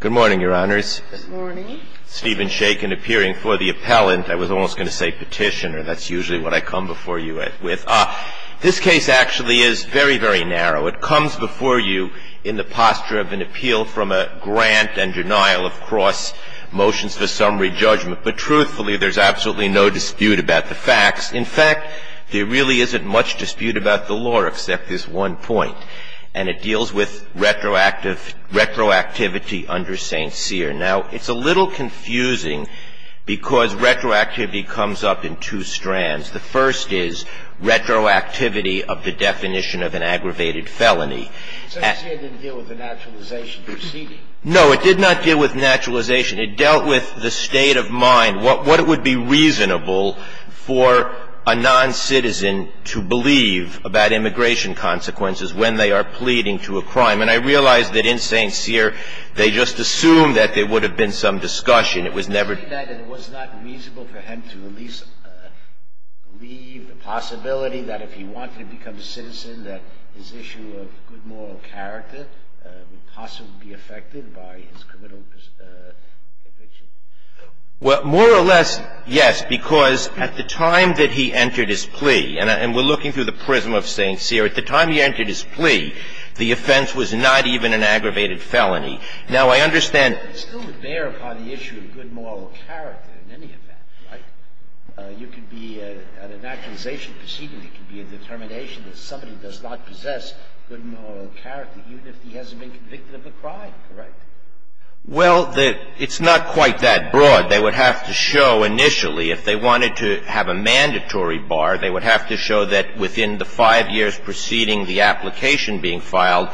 Good morning, Your Honors. Good morning. Stephen Shakin appearing for the appellant. I was almost going to say petitioner. That's usually what I come before you with. This case actually is very, very narrow. It comes before you in the posture of an appeal from a grant and denial of cross motions for summary judgment. But truthfully, there's absolutely no dispute about the facts. In fact, there really isn't much dispute about the law except this one point, and it deals with retroactivity under St. Cyr. Now, it's a little confusing because retroactivity comes up in two strands. The first is retroactivity of the definition of an aggravated felony. St. Cyr didn't deal with the naturalization proceeding. No, it did not deal with naturalization. It dealt with the state of mind, what would be reasonable for a non-citizen to believe about immigration consequences when they are pleading to a crime. And I realize that in St. Cyr, they just assumed that there would have been some discussion. It was never. It was not reasonable for him to at least believe the possibility that if he wanted to become a citizen, that his issue of good moral character would possibly be affected by his committal conviction. Well, more or less, yes, because at the time that he entered his plea, and we're looking through the prism of St. Cyr, at the time he entered his plea, the offense was not even an aggravated felony. Now, I understand. It still would bear upon the issue of good moral character in any event, right? You could be at a naturalization proceeding, it could be a determination that somebody does not possess good moral character, even if he hasn't been convicted of a crime, correct? Well, it's not quite that broad. They would have to show initially, if they wanted to have a mandatory bar, they would have to show that within the five years preceding the application being filed,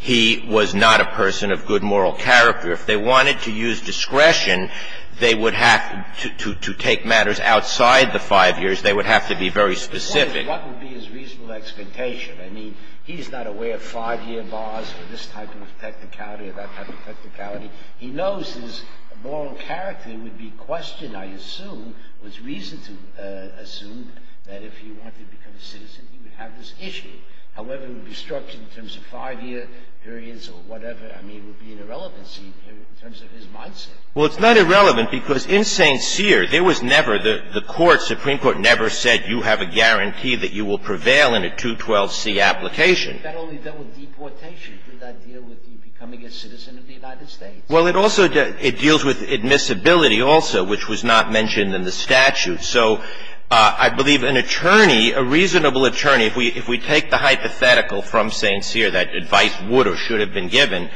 he was not a person of good moral character. If they wanted to use discretion, they would have to take matters outside the five years. They would have to be very specific. What would be his reasonable expectation? I mean, he's not aware of five-year bars for this type of technicality or that type of technicality. He knows his moral character would be questioned, I assume, with reason to assume that if he wanted to become a citizen, he would have this issue. However, it would be structured in terms of five-year periods or whatever. I mean, it would be an irrelevancy in terms of his mindset. Well, it's not irrelevant because in St. Cyr, there was never the court, the Supreme Court never said you have a guarantee that you will prevail in a 212C application. That only dealt with deportation. Did that deal with you becoming a citizen of the United States? Well, it also deals with admissibility also, which was not mentioned in the statute. So I believe an attorney, a reasonable attorney, if we take the hypothetical from St. Cyr, that advice would or should have been given,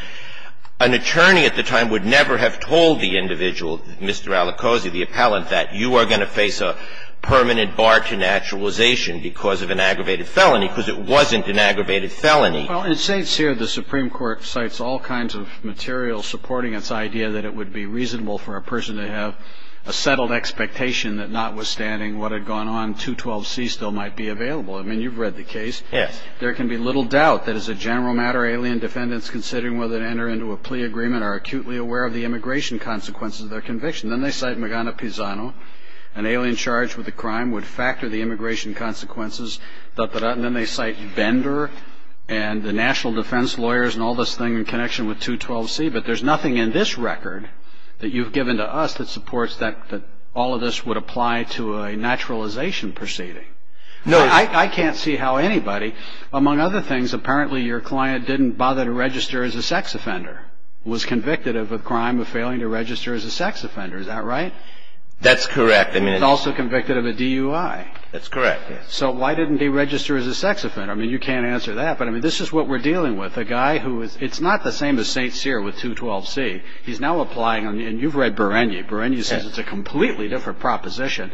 an attorney at the time would never have told the individual, Mr. Alicosi, the appellant, that you are going to face a permanent bar to naturalization because of an aggravated felony, because it wasn't an aggravated felony. Well, in St. Cyr, the Supreme Court cites all kinds of material supporting its idea that it would be reasonable for a person to have a settled expectation that notwithstanding what had gone on, 212C still might be available. I mean, you've read the case. Yes. There can be little doubt that as a general matter, alien defendants, considering whether to enter into a plea agreement, are acutely aware of the immigration consequences of their conviction. Then they cite Magana Pisano, an alien charged with a crime, would factor the immigration consequences. Then they cite Bender and the national defense lawyers and all this thing in connection with 212C. But there's nothing in this record that you've given to us that supports that all of this would apply to a naturalization proceeding. No. I can't see how anybody, among other things, apparently your client didn't bother to register as a sex offender, was convicted of a crime of failing to register as a sex offender. Is that right? That's correct. He was also convicted of a DUI. That's correct. So why didn't he register as a sex offender? I mean, you can't answer that. But, I mean, this is what we're dealing with. A guy who is, it's not the same as St. Cyr with 212C. He's now applying, and you've read Bereni. Bereni says it's a completely different proposition.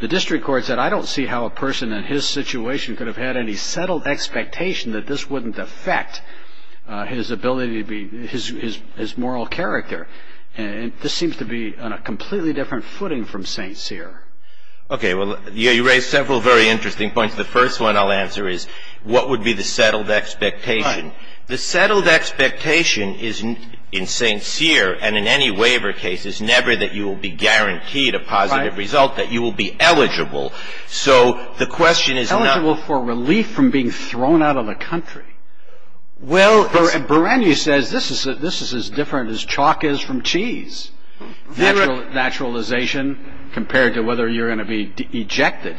The district court said, I don't see how a person in his situation could have had any settled expectation that this wouldn't affect his ability to be, his moral character. And this seems to be on a completely different footing from St. Cyr. Okay, well, you raise several very interesting points. The first one I'll answer is, what would be the settled expectation? The settled expectation is, in St. Cyr and in any waiver case, is never that you will be guaranteed a positive result, that you will be eligible. So the question is not – Eligible for relief from being thrown out of the country. Well – Bereni says this is as different as chalk is from cheese. Naturalization compared to whether you're going to be ejected.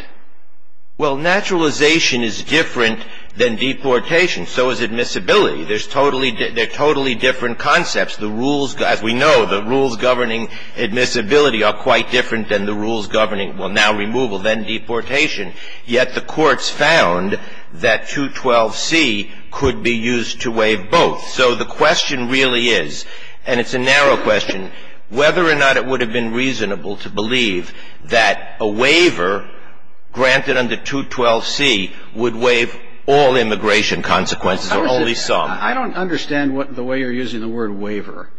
Well, naturalization is different than deportation. So is admissibility. They're totally different concepts. As we know, the rules governing admissibility are quite different than the rules governing, well, now removal, then deportation. Yet the courts found that 212C could be used to waive both. So the question really is, and it's a narrow question, whether or not it would have been reasonable to believe that a waiver granted under 212C would waive all immigration consequences or only some. I don't understand the way you're using the word waiver.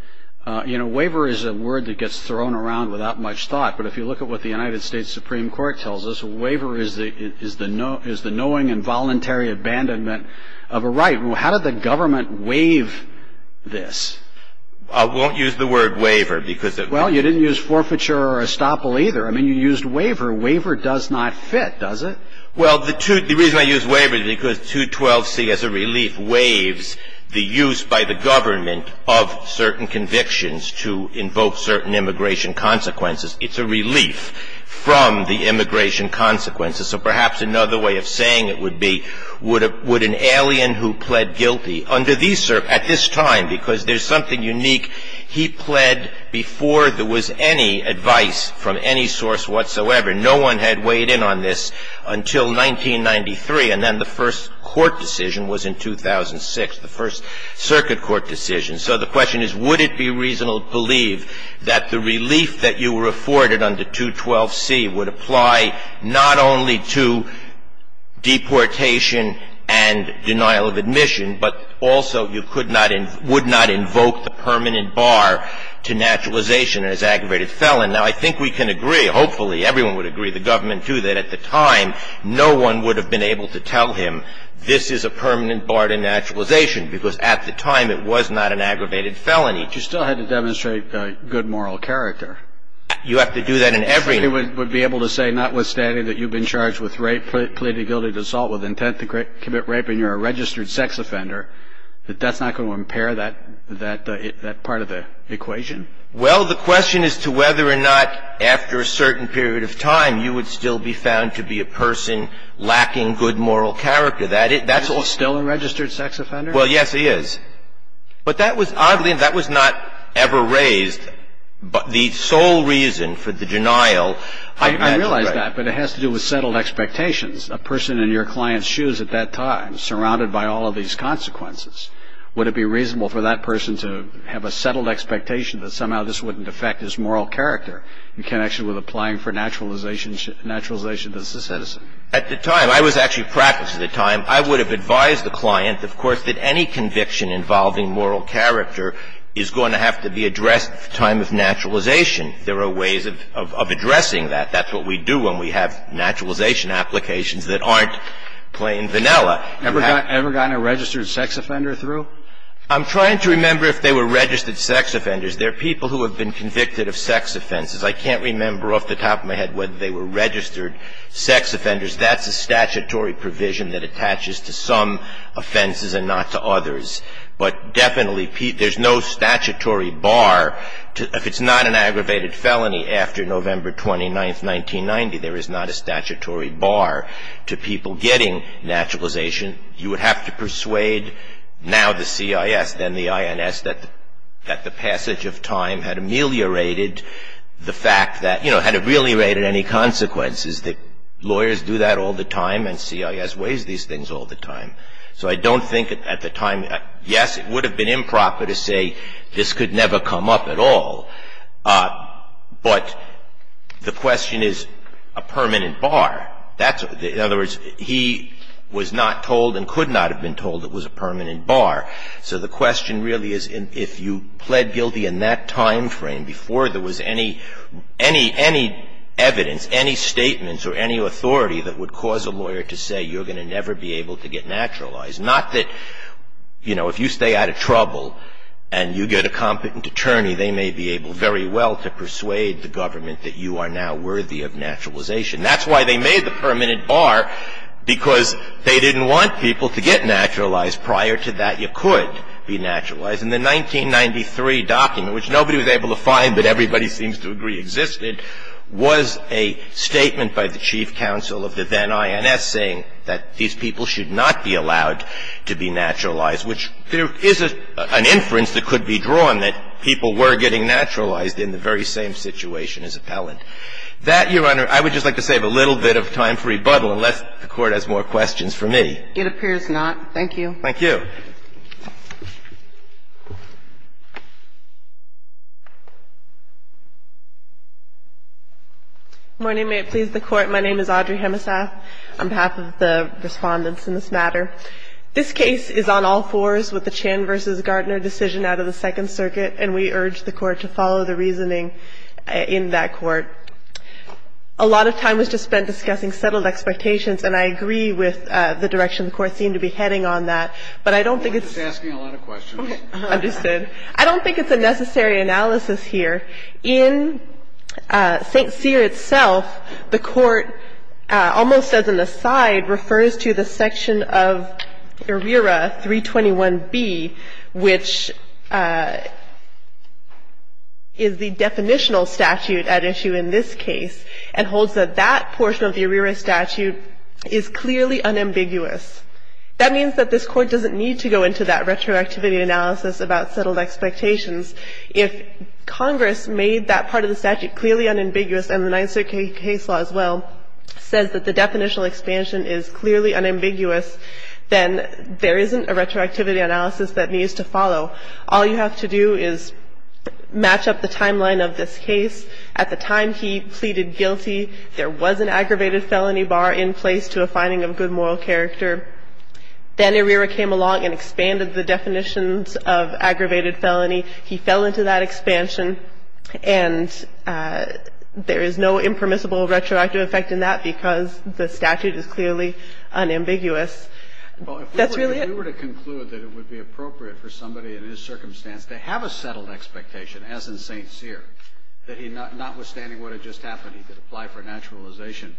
You know, waiver is a word that gets thrown around without much thought. But if you look at what the United States Supreme Court tells us, a waiver is the knowing and voluntary abandonment of a right. How did the government waive this? I won't use the word waiver because – Well, you didn't use forfeiture or estoppel either. I mean, you used waiver. Waiver does not fit, does it? Well, the reason I use waiver is because 212C, as a relief, waives the use by the government of certain convictions to invoke certain immigration consequences. It's a relief from the immigration consequences. So perhaps another way of saying it would be, would an alien who pled guilty under these – at this time, because there's something unique, he pled before there was any advice from any source whatsoever. No one had weighed in on this until 1993, and then the first court decision was in 2006, the first circuit court decision. So the question is, would it be reasonable to believe that the relief that you were afforded under 212C would apply not only to deportation and denial of admission, but also you could not – would not invoke the permanent bar to naturalization as aggravated felon. Now, I think we can agree, hopefully everyone would agree, the government too, that at the time no one would have been able to tell him this is a permanent bar to naturalization because at the time it was not an aggravated felony. But you still had to demonstrate good moral character. You have to do that in every – He would be able to say, notwithstanding that you've been charged with rape, pleaded guilty to assault with intent to commit rape, and you're a registered sex offender, that that's not going to impair that part of the equation. Well, the question is to whether or not after a certain period of time you would still be found to be a person lacking good moral character. That's all – Is he still a registered sex offender? Well, yes, he is. But that was oddly – that was not ever raised. The sole reason for the denial – I realize that, but it has to do with settled expectations. A person in your client's shoes at that time, surrounded by all of these consequences, would it be reasonable for that person to have a settled expectation that somehow this wouldn't affect his moral character in connection with applying for naturalization as a citizen? At the time, I was actually practicing at the time. I would have advised the client, of course, that any conviction involving moral character is going to have to be addressed at the time of naturalization. There are ways of addressing that. That's what we do when we have naturalization applications that aren't plain vanilla. Ever gotten a registered sex offender through? I'm trying to remember if they were registered sex offenders. They're people who have been convicted of sex offenses. I can't remember off the top of my head whether they were registered sex offenders. That's a statutory provision that attaches to some offenses and not to others. But definitely there's no statutory bar. If it's not an aggravated felony after November 29, 1990, there is not a statutory bar to people getting naturalization. You would have to persuade now the CIS, then the INS, that the passage of time had ameliorated the fact that, you know, had it really rated any consequences, that lawyers do that all the time and CIS weighs these things all the time. So I don't think at the time, yes, it would have been improper to say this could never come up at all. But the question is a permanent bar. In other words, he was not told and could not have been told it was a permanent bar. So the question really is if you pled guilty in that time frame before there was any evidence, any statements or any authority that would cause a lawyer to say you're going to never be able to get naturalized. Not that, you know, if you stay out of trouble and you get a competent attorney, they may be able very well to persuade the government that you are now worthy of naturalization. That's why they made the permanent bar, because they didn't want people to get naturalized prior to that you could be naturalized. In the 1993 document, which nobody was able to find but everybody seems to agree existed, was a statement by the chief counsel of the then INS saying that these people should not be allowed to be naturalized, which there is an inference that could be drawn that people were getting naturalized in the very same situation as Appellant. That, Your Honor, I would just like to save a little bit of time for rebuttal unless the Court has more questions for me. It appears not. Thank you. Thank you. Good morning. May it please the Court. My name is Audrey Hemesath on behalf of the Respondents in this matter. This case is on all fours with the Chan v. Gardner decision out of the Second Circuit, and we urge the Court to follow the reasoning in that court. A lot of time was just spent discussing settled expectations, and I agree with the direction the Court seemed to be heading on that. But I don't think it's a necessary analysis here. In St. Cyr itself, the Court almost as an aside refers to the section of ARERA 321B, which is the definitional statute at issue in this case, and holds that that portion of the ARERA statute is clearly unambiguous. That means that this Court doesn't need to go into that retroactivity analysis about settled expectations. If Congress made that part of the statute clearly unambiguous and the Ninth Circuit case law as well says that the definitional expansion is clearly unambiguous, then there isn't a retroactivity analysis that needs to follow. All you have to do is match up the timeline of this case. At the time he pleaded guilty, there was an aggravated felony bar in place to a finding of good moral character. Then ARERA came along and expanded the definitions of aggravated felony. He fell into that expansion, and there is no impermissible retroactive effect in that because the statute is clearly unambiguous. That's really it. Kennedy. Well, if we were to conclude that it would be appropriate for somebody in his circumstance to have a settled expectation, as in St. Cyr, that notwithstanding what had just happened, he could apply for naturalization,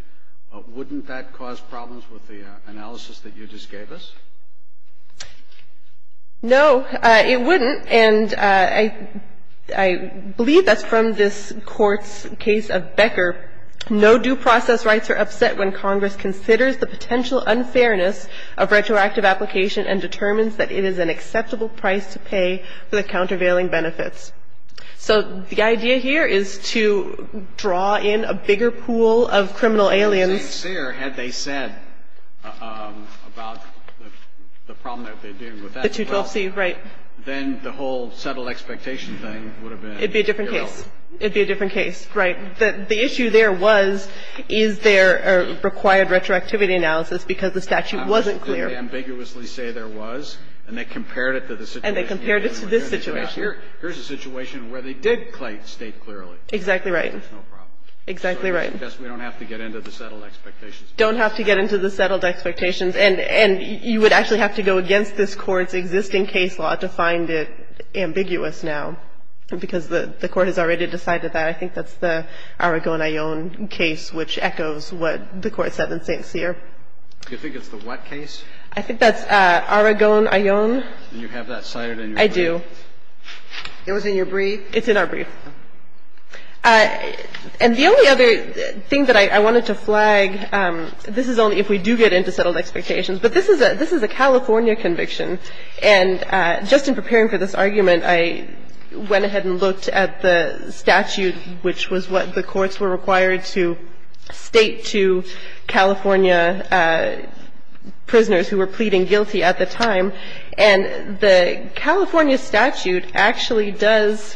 wouldn't that cause problems with the analysis that you just gave us? No, it wouldn't. And I believe that's from this Court's case of Becker. No due process rights are upset when Congress considers the potential unfairness of retroactive application and determines that it is an acceptable price to pay for the countervailing benefits. So the idea here is to draw in a bigger pool of criminal aliens. But in St. Cyr, had they said about the problem that they're dealing with as well, then the whole settled expectation thing would have been irrelevant. It would be a different case. It would be a different case, right. The issue there was, is there a required retroactivity analysis because the statute wasn't clear. How else did they ambiguously say there was, and they compared it to the situation you're in? And they compared it to this situation. Here's a situation where they did state clearly. Exactly right. There's no problem. Exactly right. So I guess we don't have to get into the settled expectations. Don't have to get into the settled expectations. And you would actually have to go against this Court's existing case law to find it ambiguous now, because the Court has already decided that. I think that's the Aragon-Ayon case, which echoes what the Court said in St. Cyr. Do you think it's the what case? I think that's Aragon-Ayon. Do you have that cited in your brief? I do. It was in your brief? It's in our brief. And the only other thing that I wanted to flag, this is only if we do get into settled expectations, but this is a California conviction. And just in preparing for this argument, I went ahead and looked at the statute, which was what the courts were required to state to California prisoners who were pleading guilty at the time. And the California statute actually does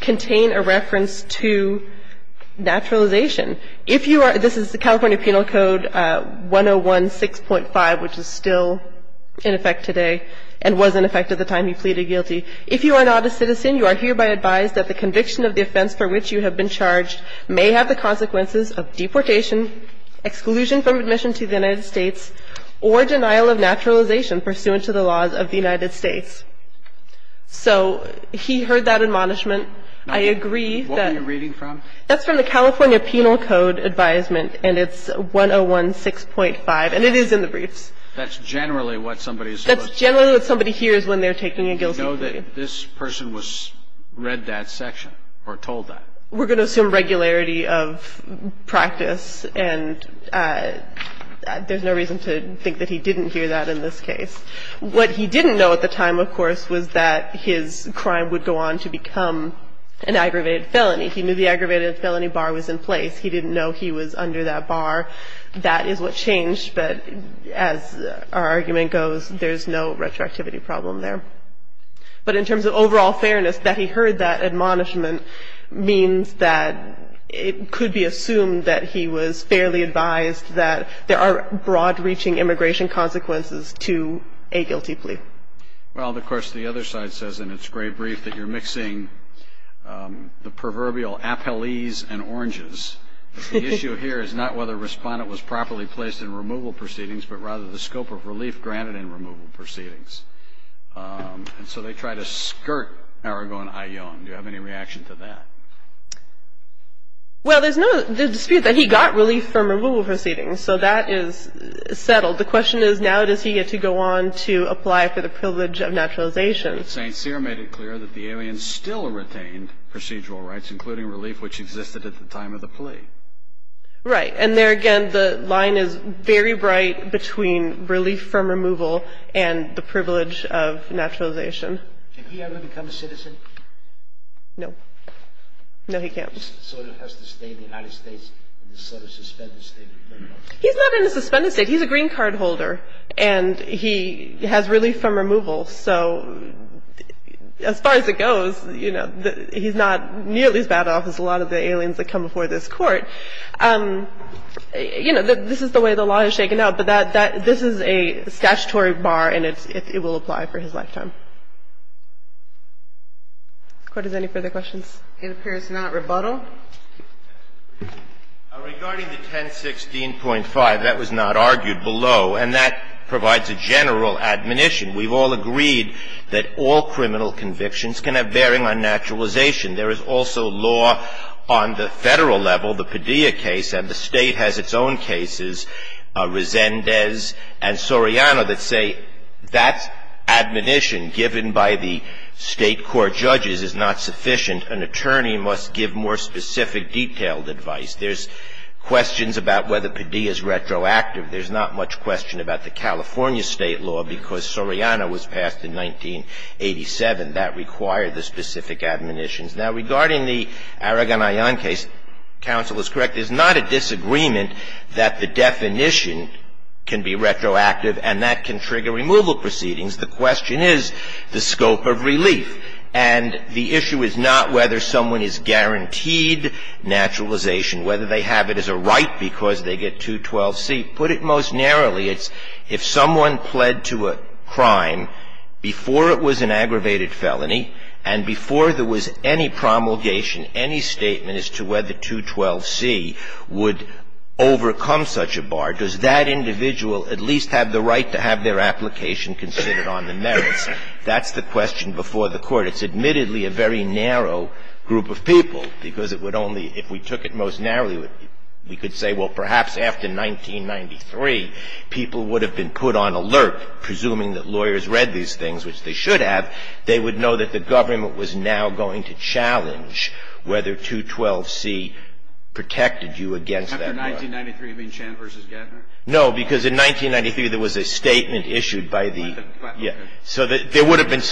contain a reference to naturalization. This is the California Penal Code 101-6.5, which is still in effect today and was in effect at the time he pleaded guilty. If you are not a citizen, you are hereby advised that the conviction of the offense for which you have been charged may have the consequences of deportation, exclusion from admission to the United States, or denial of naturalization pursuant to the laws of the United States. So he heard that admonishment. I agree that What were you reading from? That's from the California Penal Code advisement, and it's 101-6.5. And it is in the briefs. That's generally what somebody is supposed to hear. That's generally what somebody hears when they're taking a guilty plea. Do you know that this person read that section or told that? We're going to assume regularity of practice, and there's no reason to think that he didn't hear that in this case. What he didn't know at the time, of course, was that his crime would go on to become an aggravated felony. He knew the aggravated felony bar was in place. He didn't know he was under that bar. That is what changed. But as our argument goes, there's no retroactivity problem there. But in terms of overall fairness, that he heard that admonishment means that it could be assumed that he was fairly advised that there are broad-reaching immigration consequences to a guilty plea. Well, of course, the other side says in its gray brief that you're mixing the proverbial appellees and oranges. The issue here is not whether a respondent was properly placed in removal proceedings, but rather the scope of relief granted in removal proceedings. And so they try to skirt Arago and Ayon. Do you have any reaction to that? Well, there's no dispute that he got relief from removal proceedings, so that is settled. The question is, now does he get to go on to apply for the privilege of naturalization? St. Cyr made it clear that the aliens still retained procedural rights, including relief, which existed at the time of the plea. Right. And there again, the line is very bright between relief from removal and the privilege of naturalization. Can he ever become a citizen? No. No, he can't. So he has to stay in the United States in this sort of suspended state of criminal detention? He's not in a suspended state. He's a green card holder, and he has relief from removal. So as far as it goes, you know, he's not nearly as bad off as a lot of the aliens that come before this Court. You know, this is the way the law is shaken out, but this is a statutory bar, and it will apply for his lifetime. If the Court has any further questions. It appears not. Rebuttal. Regarding the 1016.5, that was not argued below, and that provides a general admonition. We've all agreed that all criminal convictions can have bearing on naturalization. There is also law on the Federal level, the Padilla case, and the State has its own cases, Resendez and Soriano, that say that admonition given by the State court judges is not sufficient. An attorney must give more specific, detailed advice. There's questions about whether Padilla is retroactive. There's not much question about the California State law, because Soriano was passed in 1987. That required the specific admonitions. Now, regarding the Aragonayan case, counsel is correct. There's not a disagreement that the definition can be retroactive, and that can trigger removal proceedings. The question is the scope of relief. And the issue is not whether someone is guaranteed naturalization, whether they have it as a right because they get 212C. Put it most narrowly. It's if someone pled to a crime before it was an aggravated felony and before there was any promulgation, any statement as to whether 212C would overcome such a bar, does that individual at least have the right to have their application considered on the merits? That's the question before the Court. It's admittedly a very narrow group of people, because it would only, if we took it most narrowly, we could say, well, perhaps after 1993, people would have been put on alert, presuming that lawyers read these things, which they should have. They would know that the government was now going to challenge whether 212C protected you against that law. After 1993, you mean Chan v. Gettner? No, because in 1993, there was a statement issued by the ----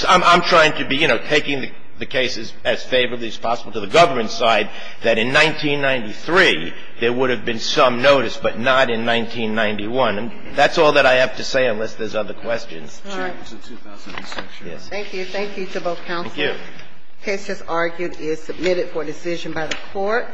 I'm trying to be, you know, taking the cases as favorably as possible to the government side, that in 1993, there would have been some notice, but not in 1991. And that's all that I have to say unless there's other questions. All right. Thank you. Thank you to both counsel. Thank you. The case, as argued, is submitted for decision by the Court.